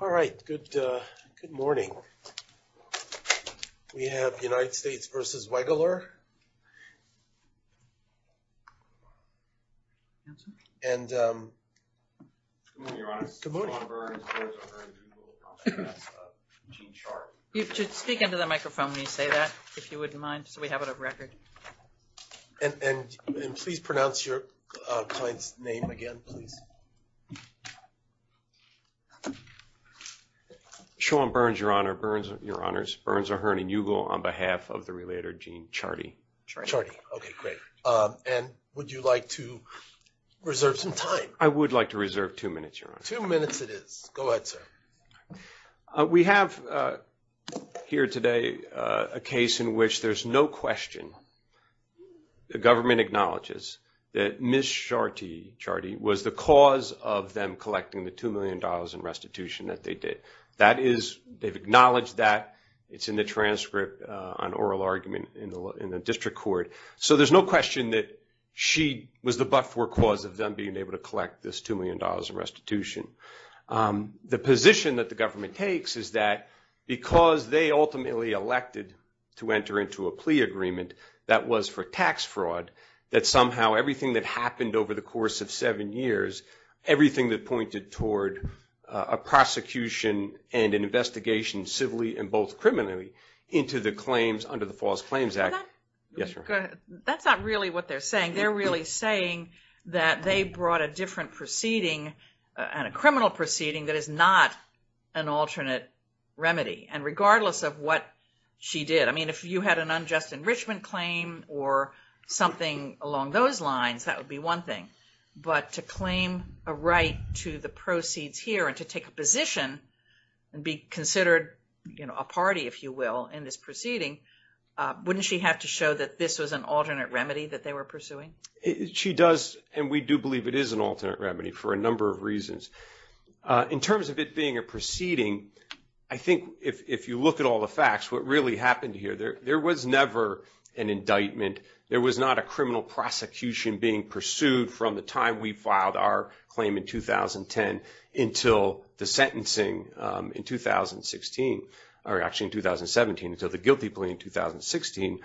All right, good morning. We have United States v. Wegeler, and, um, good morning. You should speak into the microphone when you say that, if you wouldn't mind, so we have it on record. And please pronounce your client's name again, please. Sean Burns, Your Honor. Burns, Your Honors. Burns, O'Hearn, and Ugal on behalf of the relator Gene Charty. Charty. Okay, great. And would you like to reserve some time? I would like to reserve two minutes, Your Honor. Two minutes it is. Go ahead, sir. We have here today a case in which there's no question the government acknowledges that Ms. Charty was the cause of them collecting the $2 million in restitution that they did. That is, they've acknowledged that. It's in the transcript, an oral argument in the district court. So there's no question that she was the but-for cause of them being able to collect this $2 million in restitution. The position that the government takes is that because they ultimately elected to enter into a plea agreement that was for tax fraud, that somehow everything that happened over the course of seven years, everything that pointed toward a prosecution and an investigation, civilly and both criminally, into the claims under the False Claims Act. That's not really what they're saying. They're really saying that they brought a different proceeding and a criminal proceeding that is not an alternate remedy. And regardless of what she did, I mean, if you had an unjust enrichment claim or something along those lines, that would be one thing. But to claim a right to the proceeds here and to take a position and be considered a party, if you will, in this proceeding, wouldn't she have to show that this was an alternate remedy that they were pursuing? She does, and we do believe it is an alternate remedy for a number of reasons. In terms of it being a proceeding, I think if you look at all the facts, what really happened here, there was never an indictment. There was not a criminal prosecution being pursued from the time we filed our claim in 2010 until the sentencing in 2016, or actually in 2017, until the guilty plea in 2016.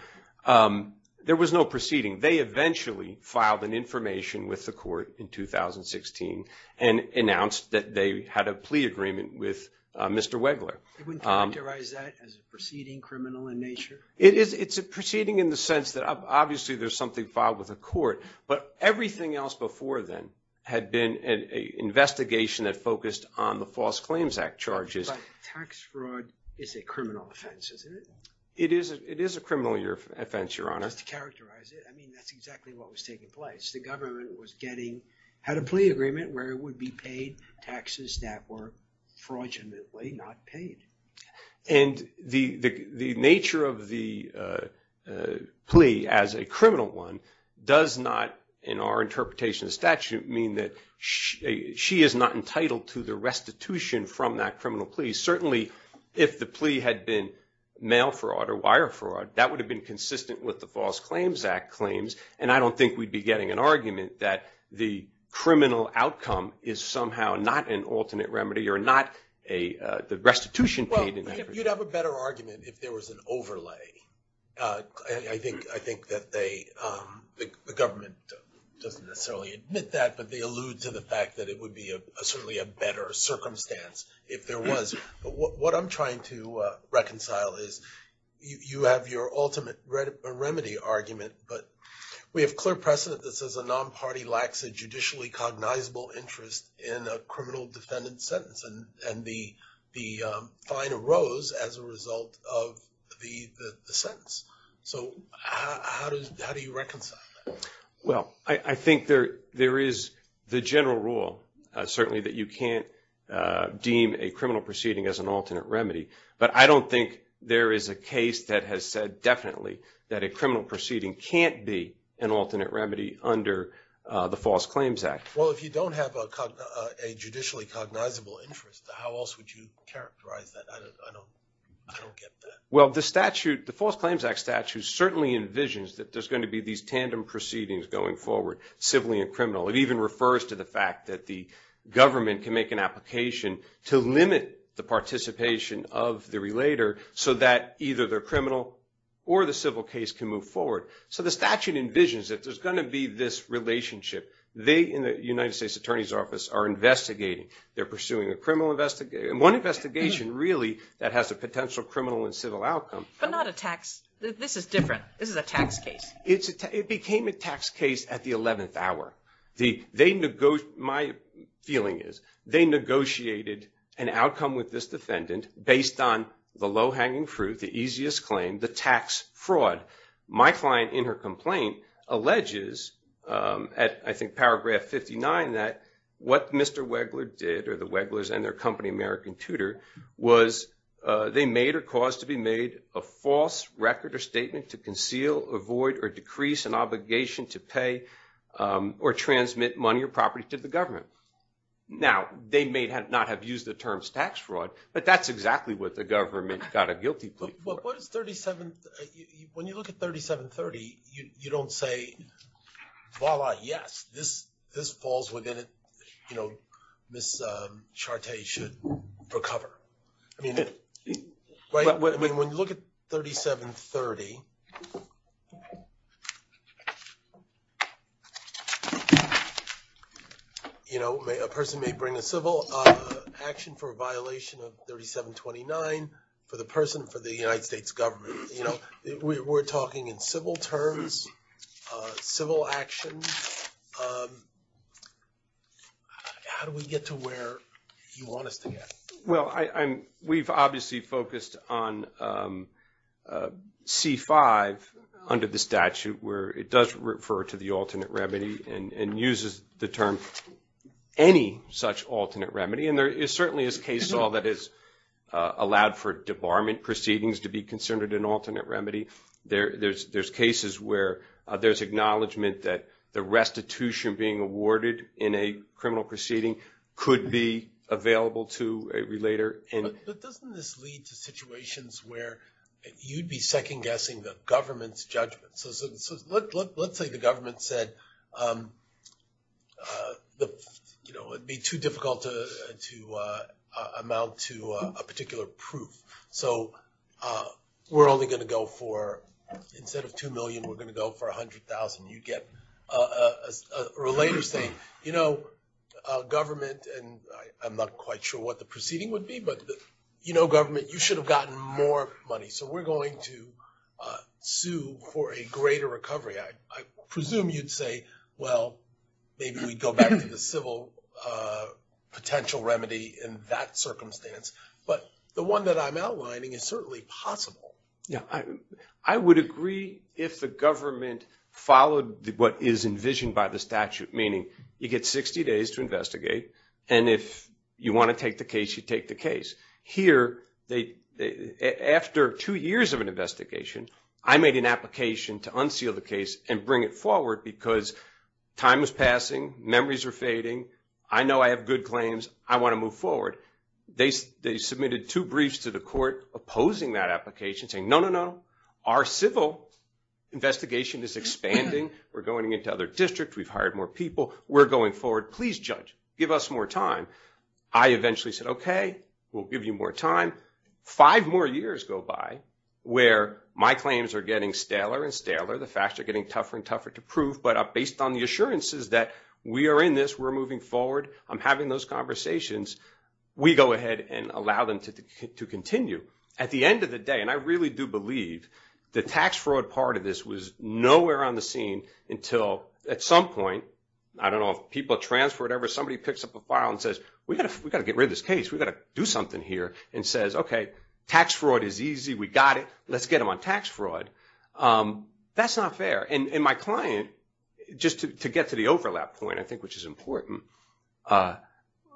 There was no proceeding. They eventually filed an information with the court in 2016 and announced that they had a plea agreement with Mr. Wegler. They wouldn't characterize that as a proceeding, criminal in nature? It's a proceeding in the sense that obviously there's something filed with the court, but everything else before then had been an investigation that focused on the False Claims Act charges. But tax fraud is a criminal offense, isn't it? It is a criminal offense, Your Honor. Just to characterize it, I mean, that's exactly what was taking place. The government was getting, had a plea agreement where it would be paid taxes that were fraudulently not paid. And the nature of the plea as a criminal one does not, in our interpretation of the statute, mean that she is not entitled to the restitution from that criminal plea. Certainly, if the plea had been mail fraud or wire fraud, that would have been consistent with the False Claims Act claims. And I don't think we'd be getting an argument that the criminal outcome is somehow not an alternate remedy or not the restitution paid. Well, you'd have a better argument if there was an overlay. I think that they, the government doesn't necessarily admit that, but they allude to the fact that it would be certainly a better circumstance if there was. But what I'm trying to reconcile is you have your ultimate remedy argument, but we have clear precedent that says a non-party lacks a judicially cognizable interest in a criminal defendant's sentence. And the fine arose as a result of the sentence. So how do you reconcile that? Well, I think there is the general rule, certainly, that you can't deem a criminal proceeding as an alternate remedy. But I don't think there is a case that has said definitely that a criminal proceeding can't be an alternate remedy under the False Claims Act. Well, if you don't have a judicially cognizable interest, how else would you characterize that? I don't get that. Well, the False Claims Act statute certainly envisions that there's going to be these tandem proceedings going forward, civilly and criminally. It even refers to the fact that the government can make an application to limit the participation of the relator so that either the criminal or the civil case can move forward. So the statute envisions that there's going to be this relationship. They, in the United States Attorney's Office, are investigating. They're pursuing a criminal investigation. One investigation, really, that has a potential criminal and civil outcome. But not a tax. This is different. This is a tax case. It became a tax case at the 11th hour. My feeling is they negotiated an outcome with this defendant based on the low-hanging fruit, the easiest claim, the tax fraud. My client, in her complaint, alleges at, I think, paragraph 59, that what Mr. Wegler did, or the Weglers and their company American Tutor, was they made or caused to be made a false record or statement to conceal, avoid, or decrease an obligation to pay or transmit money or property to the government. Now, they may not have used the term tax fraud, but that's exactly what the government got a guilty plea for. When you look at 3730, you don't say, voila, yes, this falls within it. You know, Ms. Chartier should recover. I mean, when you look at 3730, you know, a person may bring a civil action for a violation of 3729 for the person for the United States government. You know, we're talking in civil terms, civil action. How do we get to where you want us to get? Well, we've obviously focused on C-5 under the statute, where it does refer to the alternate remedy and uses the term any such alternate remedy. And there certainly is case law that has allowed for debarment proceedings to be considered an alternate remedy. There's cases where there's acknowledgment that the restitution being awarded in a criminal proceeding could be available to a relator. But doesn't this lead to situations where you'd be second-guessing the government's judgment? So let's say the government said, you know, it would be too difficult to amount to a particular proof. So we're only going to go for, instead of $2 million, we're going to go for $100,000. You'd get a relator saying, you know, government, and I'm not quite sure what the proceeding would be, but, you know, government, you should have gotten more money. So we're going to sue for a greater recovery. I presume you'd say, well, maybe we'd go back to the civil potential remedy in that circumstance. But the one that I'm outlining is certainly possible. Yeah. I would agree if the government followed what is envisioned by the statute, meaning you get 60 days to investigate, and if you want to take the case, you take the case. Here, after two years of an investigation, I made an application to unseal the case and bring it forward because time is passing, memories are fading, I know I have good claims, I want to move forward. They submitted two briefs to the court opposing that application saying, no, no, no, our civil investigation is expanding, we're going into other districts, we've hired more people, we're going forward, please judge, give us more time. I eventually said, okay, we'll give you more time. Five more years go by where my claims are getting staler and staler, the facts are getting tougher and tougher to prove, but based on the assurances that we are in this, we're moving forward, I'm having those conversations. We go ahead and allow them to continue. At the end of the day, and I really do believe the tax fraud part of this was nowhere on the scene until at some point, I don't know if people transfer or whatever, somebody picks up a file and says, we've got to get rid of this case, we've got to do something here, and says, okay, tax fraud is easy, we got it, let's get them on tax fraud. That's not fair. And my client, just to get to the overlap point, I think, which is important,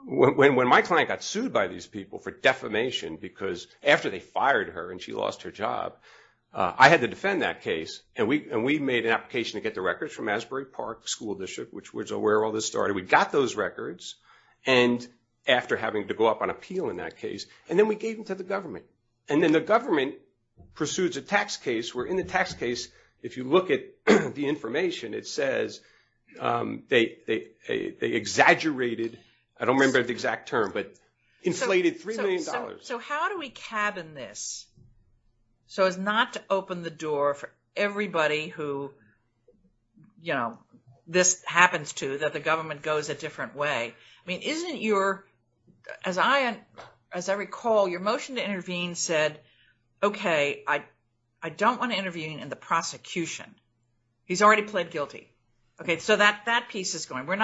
when my client got sued by these people for defamation because after they fired her and she lost her job, I had to defend that case, and we made an application to get the records from Asbury Park School District, which was where all this started. We got those records, and after having to go up on appeal in that case, and then we gave them to the government. And then the government pursues a tax case, where in the tax case, if you look at the information, it says they exaggerated, I don't remember the exact term, but inflated $3 million. So how do we cabin this so as not to open the door for everybody who this happens to, that the government goes a different way? I mean, isn't your, as I recall, your motion to intervene said, okay, I don't want to intervene in the prosecution. He's already pled guilty. Okay, so that piece is going. We're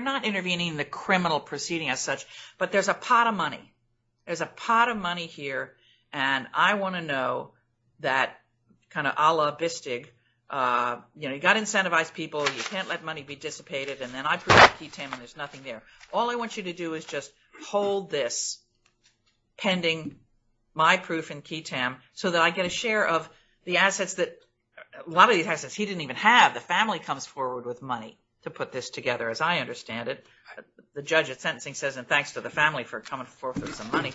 not intervening in the criminal proceeding as such, but there's a pot of money. There's a pot of money here, and I want to know that kind of a la bistig. You know, you've got incentivized people, you can't let money be dissipated, and then I prove it to Ketam, and there's nothing there. All I want you to do is just hold this pending my proof in Ketam so that I get a share of the assets that, a lot of these assets he didn't even have. The family comes forward with money to put this together, as I understand it. The judge at sentencing says, and thanks to the family for coming forward with some money.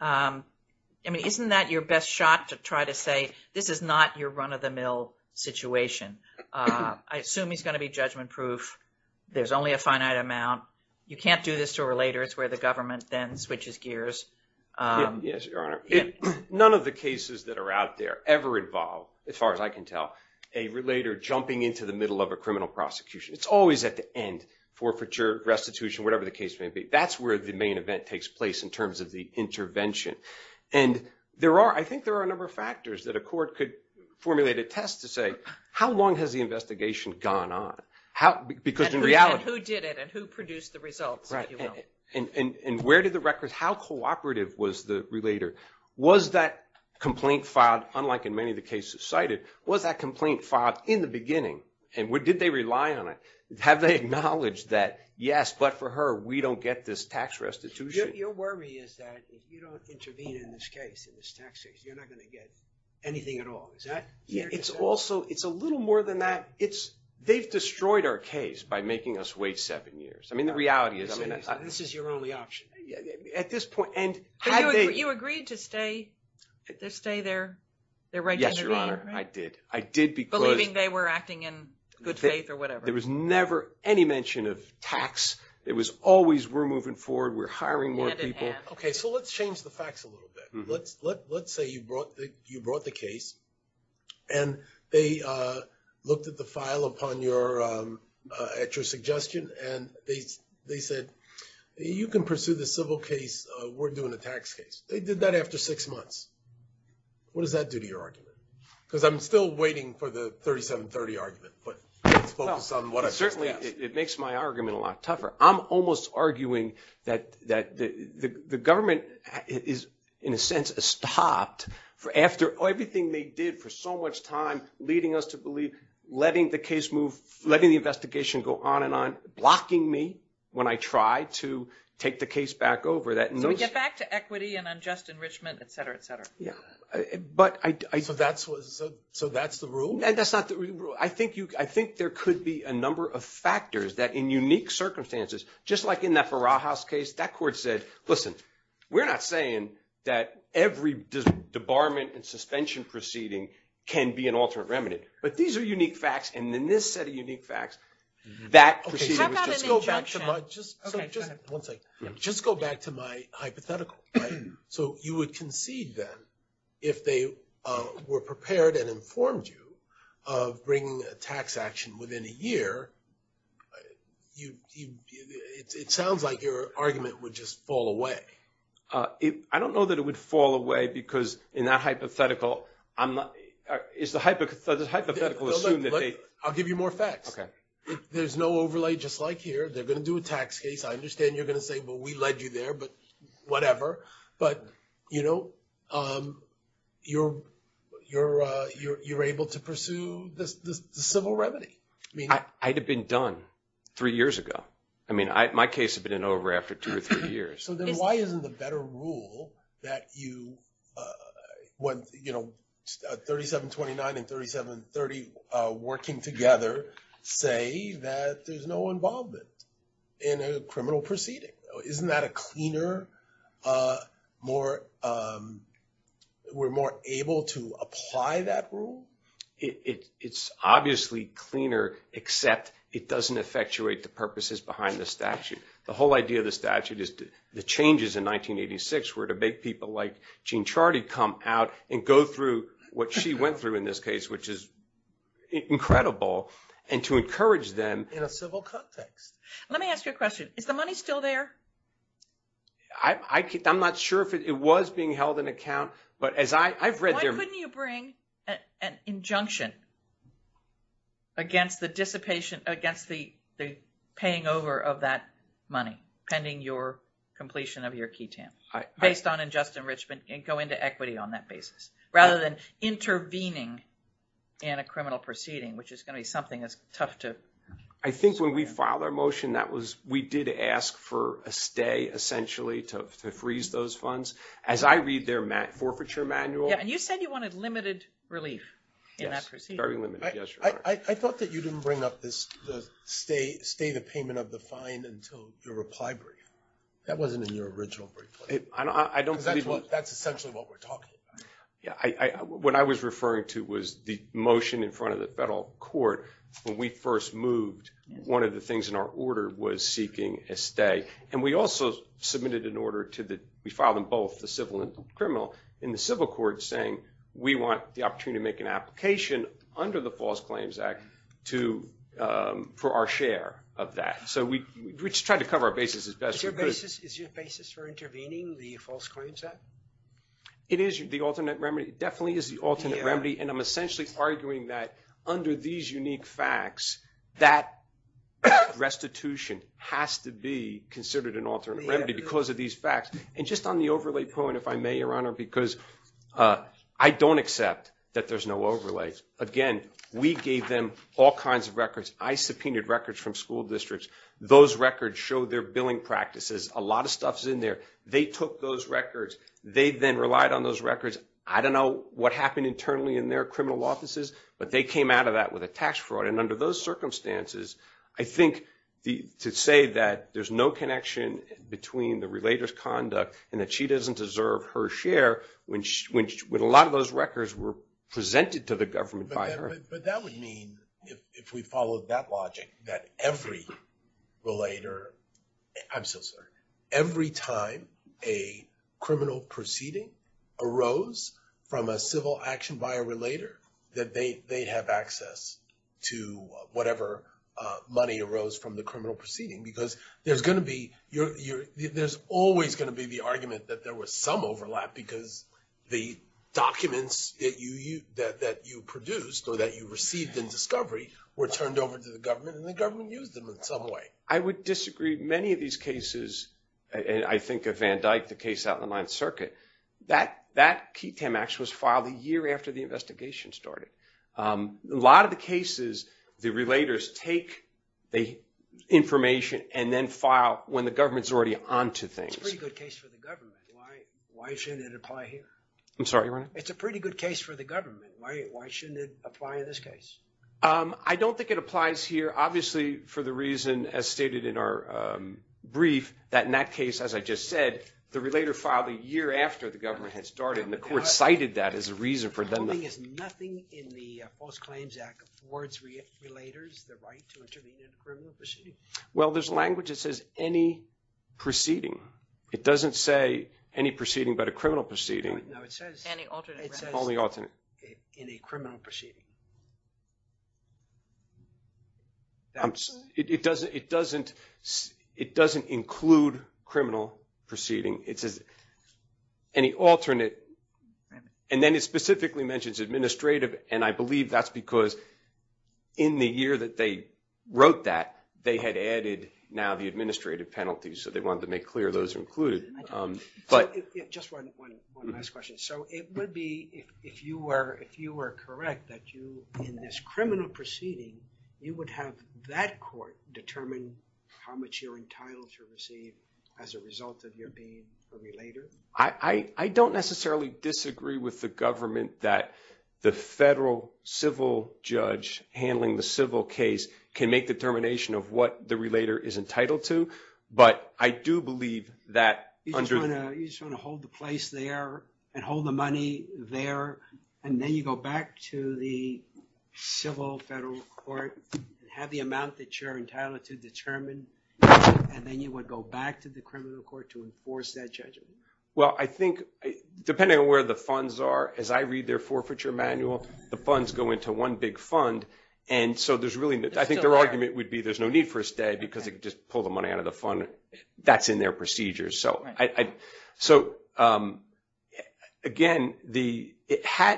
I mean, isn't that your best shot to try to say this is not your run-of-the-mill situation? I assume he's going to be judgment-proof. There's only a finite amount. You can't do this to a relator. It's where the government then switches gears. Yes, Your Honor. None of the cases that are out there ever involve, as far as I can tell, a relator jumping into the middle of a criminal prosecution. It's always at the end, forfeiture, restitution, whatever the case may be. That's where the main event takes place in terms of the intervention. And there are, I think there are a number of factors that a court could formulate a test to say, how long has the investigation gone on? How, because in reality. And who did it, and who produced the results, if you will. Right, and where did the records, how cooperative was the relator? Was that complaint filed, unlike in many of the cases cited, was that complaint filed in the beginning? And did they rely on it? Have they acknowledged that, yes, but for her, we don't get this tax restitution. Your worry is that if you don't intervene in this case, in this tax case, you're not going to get anything at all. Is that fair to say? It's also, it's a little more than that. They've destroyed our case by making us wait seven years. I mean, the reality is. This is your only option. At this point, and had they. But you agreed to stay, to stay there, their right to intervene, right? Yes, Your Honor, I did. I did because. Believing they were acting in good faith or whatever. There was never any mention of tax. It was always, we're moving forward, we're hiring more people. Hand in hand. Okay, so let's change the facts a little bit. Let's say you brought the case. And they looked at the file upon your, at your suggestion. And they said, you can pursue the civil case, we're doing a tax case. They did that after six months. What does that do to your argument? Because I'm still waiting for the 3730 argument. But let's focus on what I. Certainly, it makes my argument a lot tougher. I'm almost arguing that the government is, in a sense, stopped. After everything they did for so much time. Leading us to believe, letting the case move. Letting the investigation go on and on. Blocking me when I try to take the case back over. So we get back to equity and unjust enrichment, et cetera, et cetera. So that's the rule? That's not the rule. I think there could be a number of factors that, in unique circumstances. Just like in that Farah House case, that court said, listen. We're not saying that every debarment and suspension proceeding can be an alternate remedy. But these are unique facts. And in this set of unique facts, that proceeding. How about an injunction? Just go back to my hypothetical. So you would concede, then, if they were prepared and informed you of bringing a tax action within a year. It sounds like your argument would just fall away. I don't know that it would fall away. Because in that hypothetical, I'm not. Does the hypothetical assume that they. I'll give you more facts. There's no overlay, just like here. They're going to do a tax case. I understand you're going to say, but we led you there. But whatever. But, you know, you're able to pursue the civil remedy. I'd have been done three years ago. I mean, my case had been in over after two or three years. So then why isn't the better rule that you, you know, 3729 and 3730 working together. Say that there's no involvement in a criminal proceeding. Isn't that a cleaner, more. We're more able to apply that rule. It's obviously cleaner, except it doesn't effectuate the purposes behind the statute. The whole idea of the statute is the changes in 1986 were to make people like Jean Charity come out and go through what she went through in this case, which is incredible. And to encourage them in a civil context. Let me ask you a question. Is the money still there? I'm not sure if it was being held in account, but as I I've read there. Couldn't you bring an injunction. Against the dissipation against the, the paying over of that money pending your completion of your key. Based on ingest enrichment and go into equity on that basis, rather than intervening. And a criminal proceeding, which is going to be something as tough to. I think when we filed our motion, that was, we did ask for a stay essentially to freeze those funds as I read their forfeiture manual. And you said you wanted limited relief. Yes, very limited. I thought that you didn't bring up this state state of payment of the fine until your reply brief. That wasn't in your original brief. I don't think that's what that's essentially what we're talking about. What I was referring to was the motion in front of the federal court when we first moved. One of the things in our order was seeking a stay. And we also submitted an order to that. We filed in both the civil and criminal in the civil court saying we want the opportunity to make an application under the False Claims Act. To for our share of that. So we tried to cover our basis as best your basis is your basis for intervening the False Claims Act. It is the alternate remedy. It definitely is the alternate remedy. And I'm essentially arguing that under these unique facts, that restitution has to be considered an alternate remedy because of these facts. And just on the overlay point, if I may, Your Honor, because I don't accept that there's no overlay. Again, we gave them all kinds of records. I subpoenaed records from school districts. Those records show their billing practices. A lot of stuff's in there. They took those records. They then relied on those records. I don't know what happened internally in their criminal offices, but they came out of that with a tax fraud. And under those circumstances, I think to say that there's no connection between the relator's conduct and that she doesn't deserve her share when a lot of those records were presented to the government by her. But that would mean, if we followed that logic, that every relator, I'm so sorry, every time a criminal proceeding arose from a civil action by a relator, that they have access to whatever money arose from the criminal proceeding. Because there's always going to be the argument that there was some overlap because the documents that you produced or that you received in discovery were turned over to the government and the government used them in some way. I would disagree. Many of these cases, and I think of Van Dyck, the case out in the Ninth Circuit, that key tamax was filed a year after the investigation started. A lot of the cases, the relators take the information and then file when the government's already onto things. It's a pretty good case for the government. Why shouldn't it apply here? I'm sorry, Your Honor? It's a pretty good case for the government. Why shouldn't it apply in this case? I don't think it applies here, obviously, for the reason, as stated in our brief, that in that case, as I just said, the relator filed a year after the government had started. The court cited that as a reason for them. There's nothing in the False Claims Act that affords relators the right to intervene in a criminal proceeding? Well, there's language that says any proceeding. It doesn't say any proceeding but a criminal proceeding. No, it says only alternate. In a criminal proceeding. It doesn't include criminal proceeding. It says any alternate. And then it specifically mentions administrative, and I believe that's because in the year that they wrote that, they had added now the administrative penalties. So they wanted to make clear those are included. Just one last question. So it would be, if you were correct, that you, in this criminal proceeding, you would have that court determine how much you're entitled to receive as a result of your being a relator? I don't necessarily disagree with the government that the federal civil judge handling the civil case can make determination of what the relator is entitled to. But I do believe that... You just want to hold the place there and hold the money there, and then you go back to the civil federal court, have the amount that you're entitled to determine, and then you would go back to the criminal court to enforce that judgment? Well, I think, depending on where the funds are, as I read their forfeiture manual, the funds go into one big fund. And so I think their argument would be there's no need for a stay because they could just pull the money out of the fund. That's in their procedures. So again, had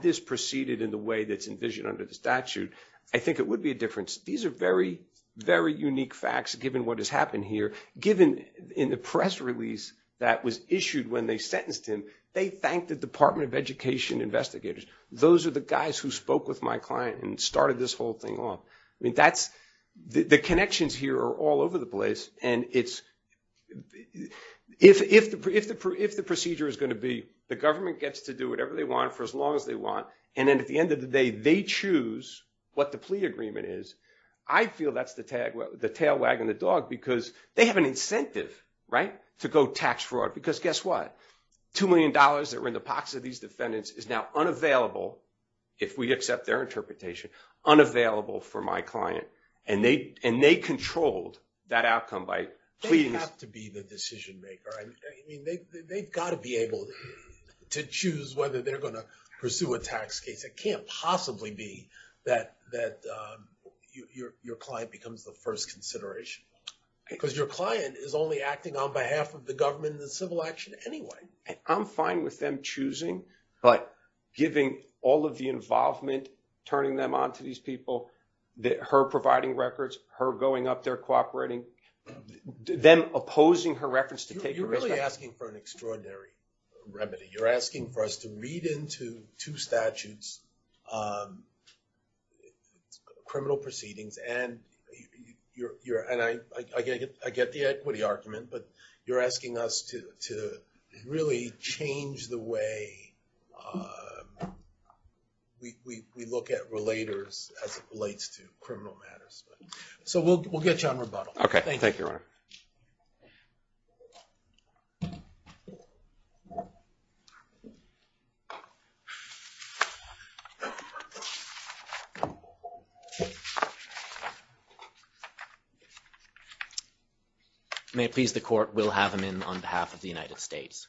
this proceeded in the way that's envisioned under the statute, I think it would be a difference. These are very, very unique facts, given what has happened here. Given in the press release that was issued when they sentenced him, they thanked the Department of Education investigators. Those are the guys who spoke with my client and started this whole thing off. The connections here are all over the place. And if the procedure is going to be the government gets to do whatever they want for as long as they want, and then at the end of the day, they choose what the plea agreement is, I feel that's the tail wagging the dog because they have an incentive to go tax fraud. Because guess what? $2 million that were in the pockets of these defendants is now unavailable, if we accept their interpretation, unavailable for my client. And they controlled that outcome by pleading. They have to be the decision maker. I mean, they've got to be able to choose whether they're going to pursue a tax case. It can't possibly be that your client becomes the first consideration. Because your client is only acting on behalf of the government and the civil action anyway. I'm fine with them choosing, but giving all of the involvement, turning them on to these people, her providing records, her going up there cooperating, them opposing her records to take a risk. You're really asking for an extraordinary remedy. You're asking for us to read into two statutes, criminal proceedings, and I get the equity argument, but you're asking us to really change the way we look at relators as it relates to criminal matters. So we'll get you on rebuttal. Okay. Thank you, Your Honor. May it please the court, we'll have him in on behalf of the United States.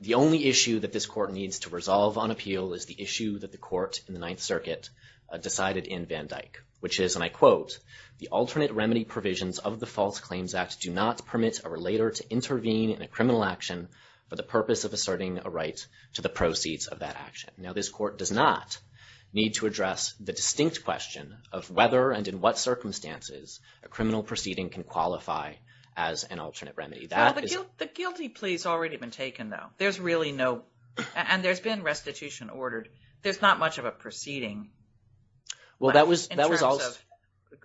The only issue that this court needs to resolve on appeal is the issue that the court in the Ninth Circuit decided in Van Dyke. Which is, and I quote, the alternate remedy provisions of the False Claims Act do not permit a relator to intervene in a criminal action for the purpose of asserting a right to the proceeds of that action. Now this court does not need to address the distinct question of whether and in what circumstances a criminal proceeding can qualify as an alternate remedy. The guilty plea has already been taken though. There's really no, and there's been restitution ordered. There's not much of a proceeding. In terms of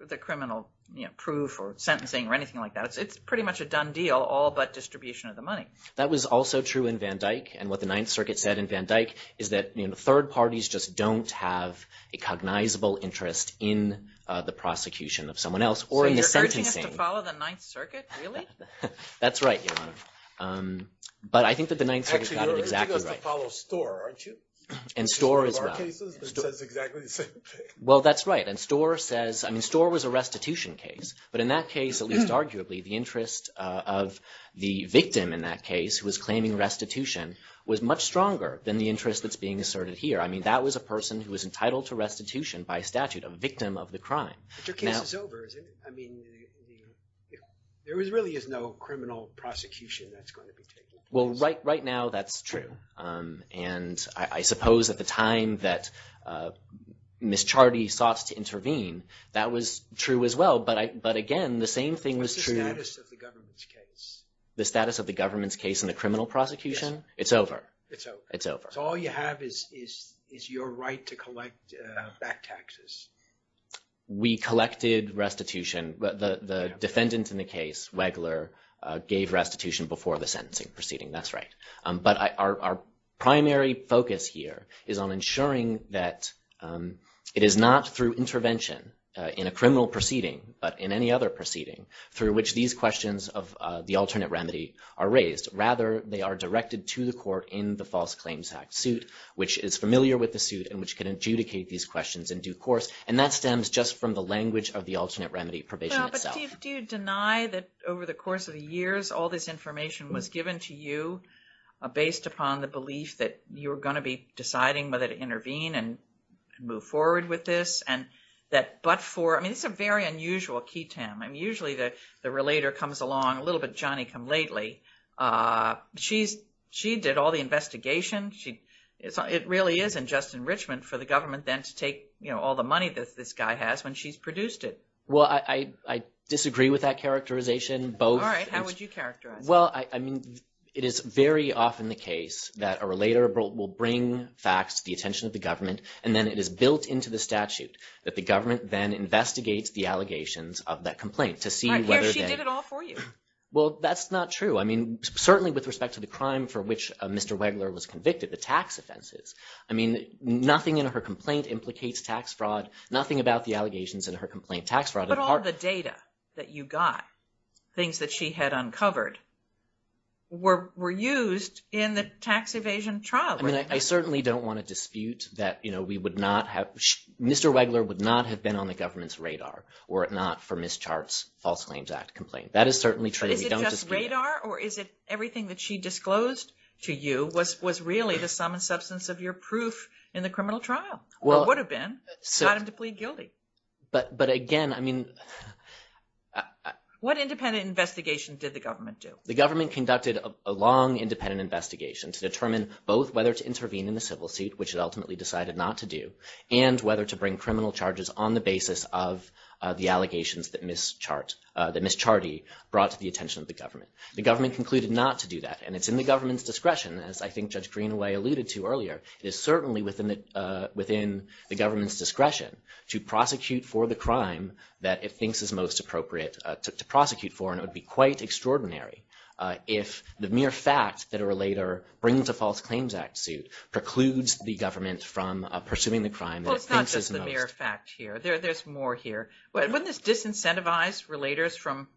the criminal proof or sentencing or anything like that, it's pretty much a done deal, all but distribution of the money. That was also true in Van Dyke, and what the Ninth Circuit said in Van Dyke is that third parties just don't have a cognizable interest in the prosecution of someone else or in the sentencing. So you're urging us to follow the Ninth Circuit, really? That's right, Your Honor. But I think that the Ninth Circuit got it exactly right. Actually, you're urging us to follow Stohr, aren't you? Which is one of our cases that says exactly the same thing. Well, that's right. And Stohr says, I mean, Stohr was a restitution case. But in that case, at least arguably, the interest of the victim in that case who was claiming restitution was much stronger than the interest that's being asserted here. I mean, that was a person who was entitled to restitution by statute, a victim of the crime. But your case is over, isn't it? I mean, there really is no criminal prosecution that's going to be taken. Well, right now that's true. And I suppose at the time that Ms. Charty sought to intervene, that was true as well. But again, the same thing was true. What's the status of the government's case? The status of the government's case in the criminal prosecution? Yes. It's over. It's over. It's over. So all you have is your right to collect back taxes. We collected restitution. The defendant in the case, Wegler, gave restitution before the sentencing proceeding. That's right. But our primary focus here is on ensuring that it is not through intervention in a criminal proceeding, but in any other proceeding, through which these questions of the alternate remedy are raised. Rather, they are directed to the court in the False Claims Act suit, which is familiar with the suit and which can adjudicate these questions in due course. And that stems just from the language of the alternate remedy probation itself. Steve, do you deny that over the course of the years, all this information was given to you based upon the belief that you were going to be deciding whether to intervene and move forward with this? I mean, this is a very unusual key time. Usually, the relator comes along, a little bit Johnny come lately. She did all the investigation. It really is in just enrichment for the government then to take all the money that this guy has when she's produced it. Well, I disagree with that characterization. All right. How would you characterize? Well, I mean, it is very often the case that a relator will bring facts to the attention of the government. And then it is built into the statute that the government then investigates the allegations of that complaint to see whether she did it all for you. Well, that's not true. I mean, certainly with respect to the crime for which Mr. Wegler was convicted, the tax offenses. I mean, nothing in her complaint implicates tax fraud. Nothing about the allegations in her complaint tax fraud. But all the data that you got, things that she had uncovered, were used in the tax evasion trial. I mean, I certainly don't want to dispute that we would not have – Mr. Wegler would not have been on the government's radar were it not for Ms. Chart's False Claims Act complaint. That is certainly true. Is it just radar or is it everything that she disclosed to you was really the sum and substance of your proof in the criminal trial? It would have been. You got him to plead guilty. But again, I mean – What independent investigation did the government do? The government conducted a long independent investigation to determine both whether to intervene in the civil suit, which it ultimately decided not to do, and whether to bring criminal charges on the basis of the allegations that Ms. Charty brought to the attention of the government. The government concluded not to do that, and it's in the government's discretion, as I think Judge Greenaway alluded to earlier. It is certainly within the government's discretion to prosecute for the crime that it thinks is most appropriate to prosecute for, and it would be quite extraordinary if the mere fact that a relator brings a False Claims Act suit precludes the government from pursuing the crime that it thinks is most – Well, it's not just the mere fact here. There's more here. Wouldn't this disincentivize relators from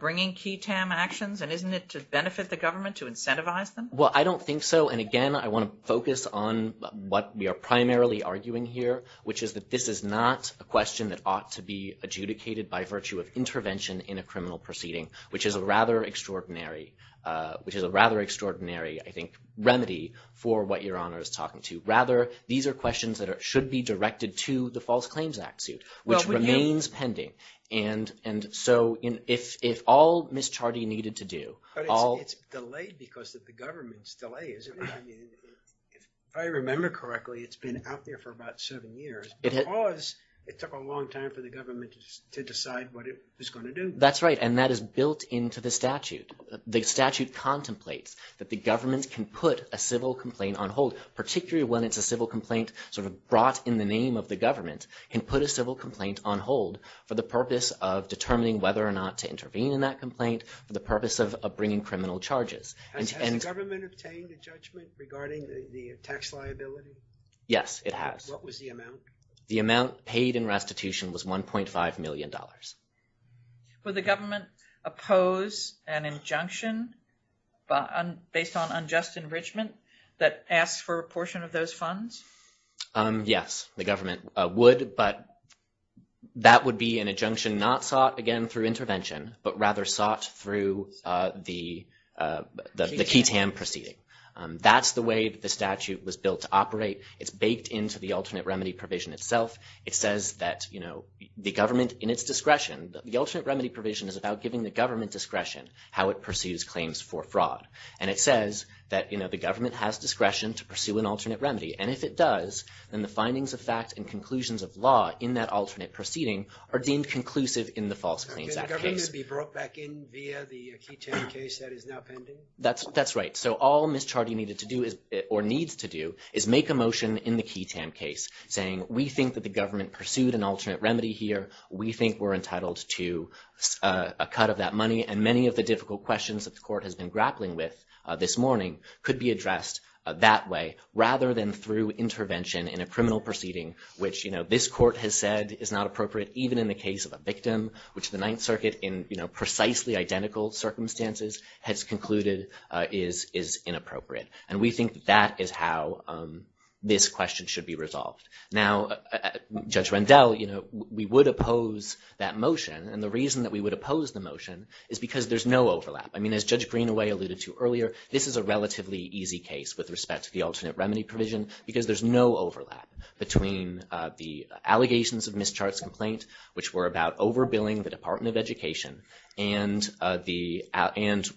bringing key TAM actions? And isn't it to benefit the government to incentivize them? Well, I don't think so. And again, I want to focus on what we are primarily arguing here, which is that this is not a question that ought to be adjudicated by virtue of intervention in a criminal proceeding, which is a rather extraordinary – which is a rather extraordinary, I think, remedy for what Your Honor is talking to. Rather, these are questions that should be directed to the False Claims Act suit, which remains pending. And so if all Ms. Charty needed to do – It's delayed because of the government's delay, isn't it? If I remember correctly, it's been out there for about seven years. Because it took a long time for the government to decide what it was going to do. That's right, and that is built into the statute. The statute contemplates that the government can put a civil complaint on hold, particularly when it's a civil complaint sort of brought in the name of the government, can put a civil complaint on hold for the purpose of determining whether or not to intervene in that complaint, for the purpose of bringing criminal charges. Has the government obtained a judgment regarding the tax liability? Yes, it has. What was the amount? The amount paid in restitution was $1.5 million. Would the government oppose an injunction based on unjust enrichment that asks for a portion of those funds? Yes, the government would, but that would be an injunction not sought, again, through intervention, but rather sought through the KTAM proceeding. That's the way the statute was built to operate. It's baked into the alternate remedy provision itself. It says that the government, in its discretion, the alternate remedy provision is about giving the government discretion how it pursues claims for fraud. And it says that the government has discretion to pursue an alternate remedy, and if it does, then the findings of fact and conclusions of law in that alternate proceeding are deemed conclusive in the False Claims Act case. Could the government be brought back in via the KTAM case that is now pending? That's right. So all Ms. Chardy needed to do, or needs to do, is make a motion in the KTAM case saying, we think that the government pursued an alternate remedy here, we think we're entitled to a cut of that money, and many of the difficult questions that the court has been grappling with this morning could be addressed that way, rather than through intervention in a criminal proceeding, which this court has said is not appropriate, even in the case of a victim, which the Ninth Circuit, in precisely identical circumstances, has concluded is inappropriate. And we think that is how this question should be resolved. Now, Judge Rendell, we would oppose that motion, and the reason that we would oppose the motion is because there's no overlap. I mean, as Judge Greenaway alluded to earlier, this is a relatively easy case with respect to the alternate remedy provision, because there's no overlap between the allegations of Ms. Chardy's complaint, which were about overbilling the Department of Education, and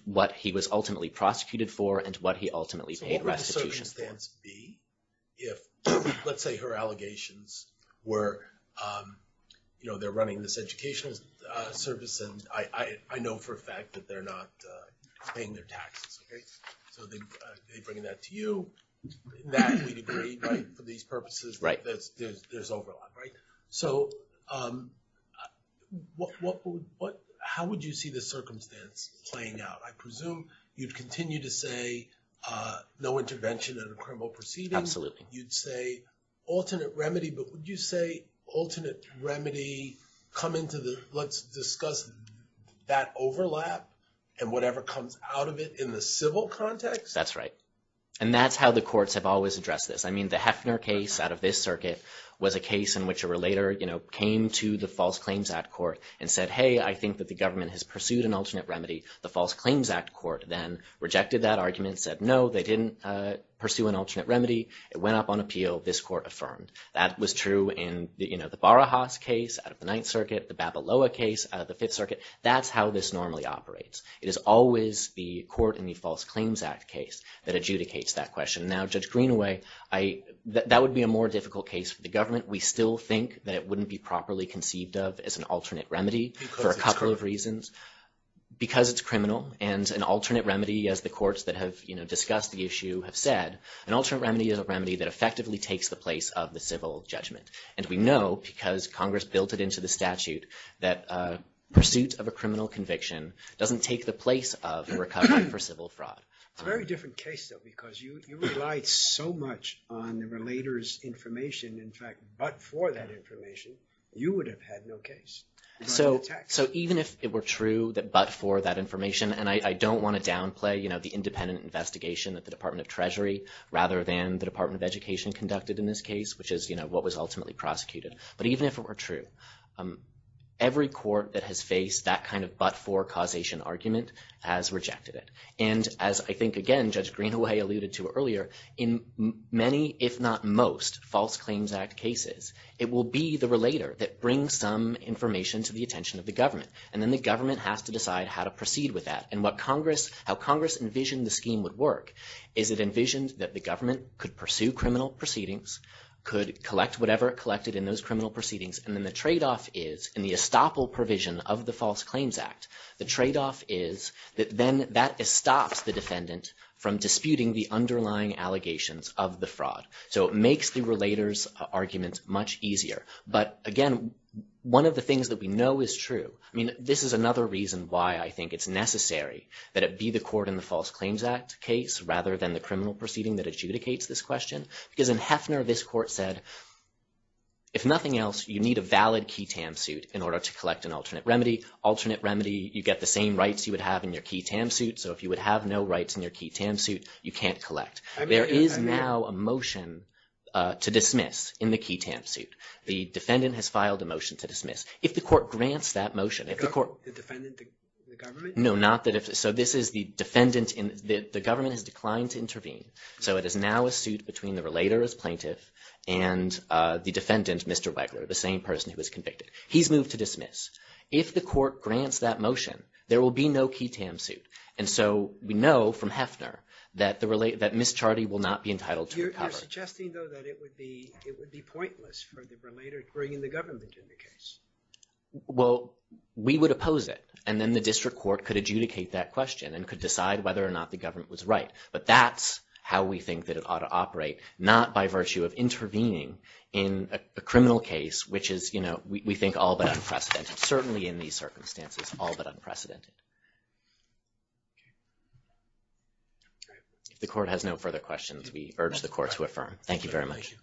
what he was ultimately prosecuted for, and what he ultimately paid restitution for. So what would the circumstance be if, let's say, her allegations were, you know, they're running this educational service, and I know for a fact that they're not paying their taxes, okay? So they bring that to you. That, we'd agree, right, for these purposes, there's overlap, right? So how would you see this circumstance playing out? I presume you'd continue to say no intervention in a criminal proceeding. Absolutely. You'd say alternate remedy, but would you say alternate remedy come into the, let's discuss that overlap and whatever comes out of it in the civil context? That's right. And that's how the courts have always addressed this. I mean, the Heffner case out of this circuit was a case in which a relator, you know, came to the False Claims Act court and said, hey, I think that the government has pursued an alternate remedy. The False Claims Act court then rejected that argument, said no, they didn't pursue an alternate remedy. It went up on appeal. This court affirmed. That was true in, you know, the Barahas case out of the Ninth Circuit, the Babaloa case out of the Fifth Circuit. That's how this normally operates. It is always the court in the False Claims Act case that adjudicates that question. Now, Judge Greenaway, that would be a more difficult case for the government. We still think that it wouldn't be properly conceived of as an alternate remedy for a couple of reasons. Because it's criminal. Because it's criminal and an alternate remedy, as the courts that have, you know, discussed the issue have said, an alternate remedy is a remedy that effectively takes the place of the civil judgment. And we know because Congress built it into the statute that pursuit of a criminal conviction doesn't take the place of a recovery for civil fraud. It's a very different case, though, because you relied so much on the relator's information. In fact, but for that information, you would have had no case. So even if it were true that but for that information, and I don't want to downplay, you know, the independent investigation that the Department of Treasury rather than the Department of Education conducted in this case, which is, you know, what was ultimately prosecuted. But even if it were true, every court that has faced that kind of but for causation argument has rejected it. And as I think, again, Judge Greenaway alluded to earlier, in many, if not most, False Claims Act cases, it will be the relator that brings some information to the attention of the government. And then the government has to decide how to proceed with that. And what Congress, how Congress envisioned the scheme would work is it envisioned that the government could pursue criminal proceedings, could collect whatever it collected in those criminal proceedings. And then the tradeoff is in the estoppel provision of the False Claims Act, the tradeoff is that then that stops the defendant from disputing the underlying allegations of the fraud. So it makes the relator's arguments much easier. But again, one of the things that we know is true. I mean, this is another reason why I think it's necessary that it be the court in the False Claims Act case, rather than the criminal proceeding that adjudicates this question. Because in Hefner, this court said, if nothing else, you need a valid key tam suit in order to collect an alternate remedy. Alternate remedy, you get the same rights you would have in your key tam suit. So if you would have no rights in your key tam suit, you can't collect. There is now a motion to dismiss in the key tam suit. The defendant has filed a motion to dismiss. If the court grants that motion, if the court. The defendant, the government? No, not the defendant. So this is the defendant. The government has declined to intervene. So it is now a suit between the relator as plaintiff and the defendant, Mr. Wegler, the same person who was convicted. He's moved to dismiss. If the court grants that motion, there will be no key tam suit. And so we know from Hefner that Ms. Chardy will not be entitled to recovery. You're suggesting, though, that it would be pointless for the relator to bring in the government in the case. Well, we would oppose it. And then the district court could adjudicate that question and could decide whether or not the government was right. But that's how we think that it ought to operate, not by virtue of intervening in a criminal case, which is, you know, we think all but unprecedented. Certainly in these circumstances, all but unprecedented. If the court has no further questions, we urge the court to affirm. Thank you very much.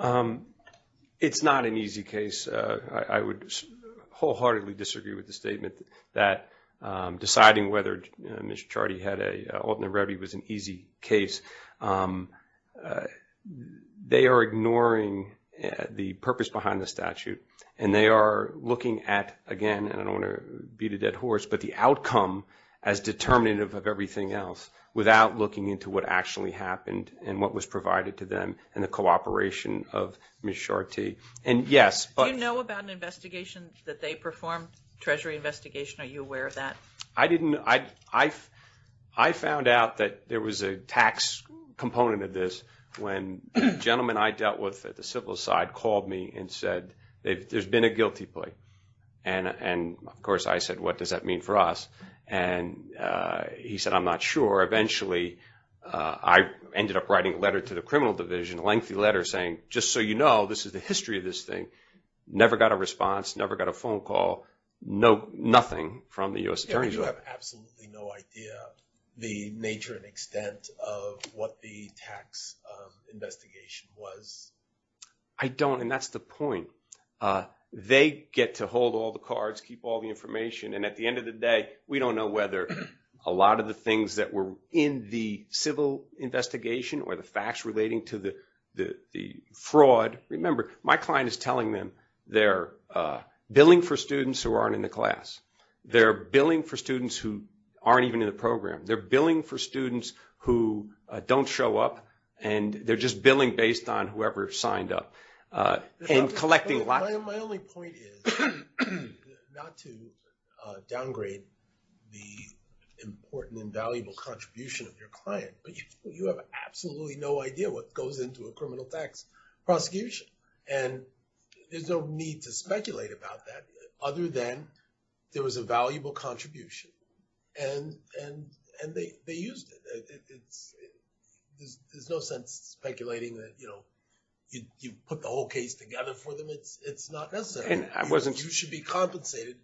Thank you. It's not an easy case. I would wholeheartedly disagree with the statement that deciding whether Ms. Chardy had an alternate remedy was an easy case. They are ignoring the purpose behind the statute. And they are looking at, again, and I don't want to beat a dead horse, but the outcome as determinative of everything else without looking into what actually happened and what was provided to them and the cooperation of Ms. Chardy. And, yes. Do you know about an investigation that they performed, Treasury investigation? Are you aware of that? I didn't. I found out that there was a tax component of this when the gentleman I dealt with at the civil side called me and said, there's been a guilty plea. And, of course, I said, what does that mean for us? And he said, I'm not sure. I ended up writing a letter to the criminal division, a lengthy letter saying, just so you know, this is the history of this thing. Never got a response. Never got a phone call. Nothing from the U.S. Attorney's Office. You have absolutely no idea the nature and extent of what the tax investigation was? I don't. And that's the point. They get to hold all the cards, keep all the information. And at the end of the day, we don't know whether a lot of the things that were in the civil investigation or the facts relating to the fraud. Remember, my client is telling them they're billing for students who aren't in the class. They're billing for students who aren't even in the program. They're billing for students who don't show up. And they're just billing based on whoever signed up. My only point is not to downgrade the important and valuable contribution of your client. But you have absolutely no idea what goes into a criminal tax prosecution. And there's no need to speculate about that other than there was a valuable contribution. And they used it. There's no sense speculating that you put the whole case together for them. It's not necessary. You should be compensated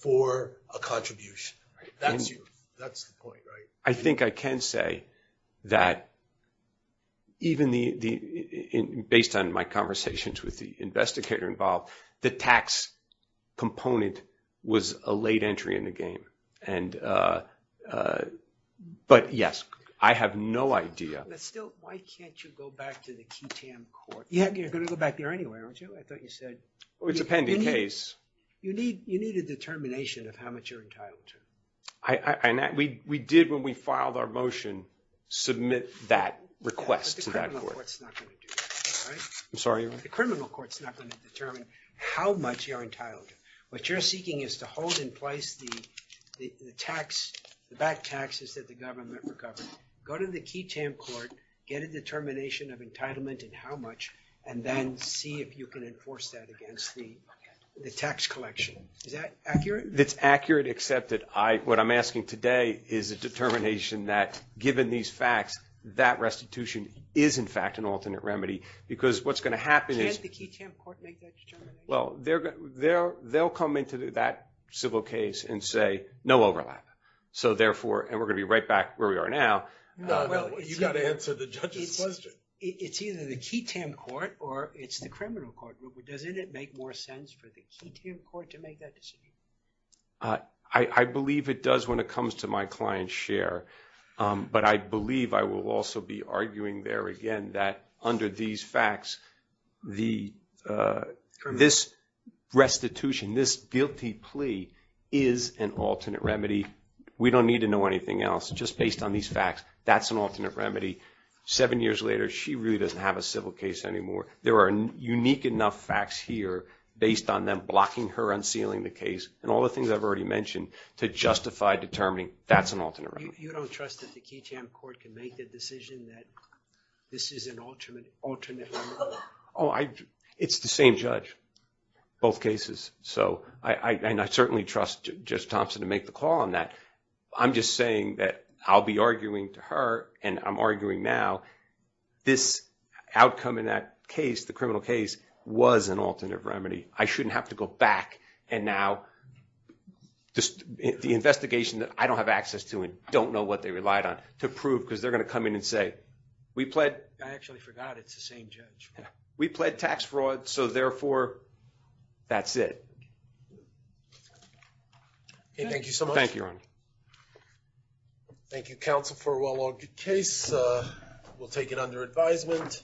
for a contribution. That's the point, right? I think I can say that even based on my conversations with the investigator involved, the tax component was a late entry in the game. But yes, I have no idea. Still, why can't you go back to the QTAM court? You're going to go back there anyway, aren't you? I thought you said... It's a pending case. You need a determination of how much you're entitled to. We did, when we filed our motion, submit that request to that court. But the criminal court's not going to do that, right? I'm sorry? The criminal court's not going to determine how much you're entitled to. What you're seeking is to hold in place the tax, the back taxes that the government recovered. Go to the QTAM court, get a determination of entitlement and how much, and then see if you can enforce that against the tax collection. Is that accurate? It's accurate, except that what I'm asking today is a determination that, given these facts, that restitution is in fact an alternate remedy. Because what's going to happen is... Can't the QTAM court make that determination? Well, they'll come into that civil case and say, no overlap. So therefore, and we're going to be right back where we are now... No, no, you've got to answer the judge's question. It's either the QTAM court or it's the criminal court. Doesn't it make more sense for the QTAM court to make that decision? I believe it does when it comes to my client's share. But I believe I will also be arguing there again that under these facts, this restitution, this guilty plea is an alternate remedy. We don't need to know anything else. Just based on these facts, that's an alternate remedy. Seven years later, she really doesn't have a civil case anymore. There are unique enough facts here based on them blocking her unsealing the case and all the things I've already mentioned to justify determining that's an alternate remedy. So you don't trust that the QTAM court can make the decision that this is an alternate remedy? Oh, it's the same judge, both cases. So I certainly trust Judge Thompson to make the call on that. I'm just saying that I'll be arguing to her and I'm arguing now. This outcome in that case, the criminal case, was an alternate remedy. I shouldn't have to go back and now the investigation that I don't have access to and don't know what they relied on to prove because they're going to come in and say, I actually forgot it's the same judge. We pled tax fraud, so therefore, that's it. Thank you so much. Thank you, Your Honor. Thank you, counsel, for a well-argued case. We'll take it under advisement.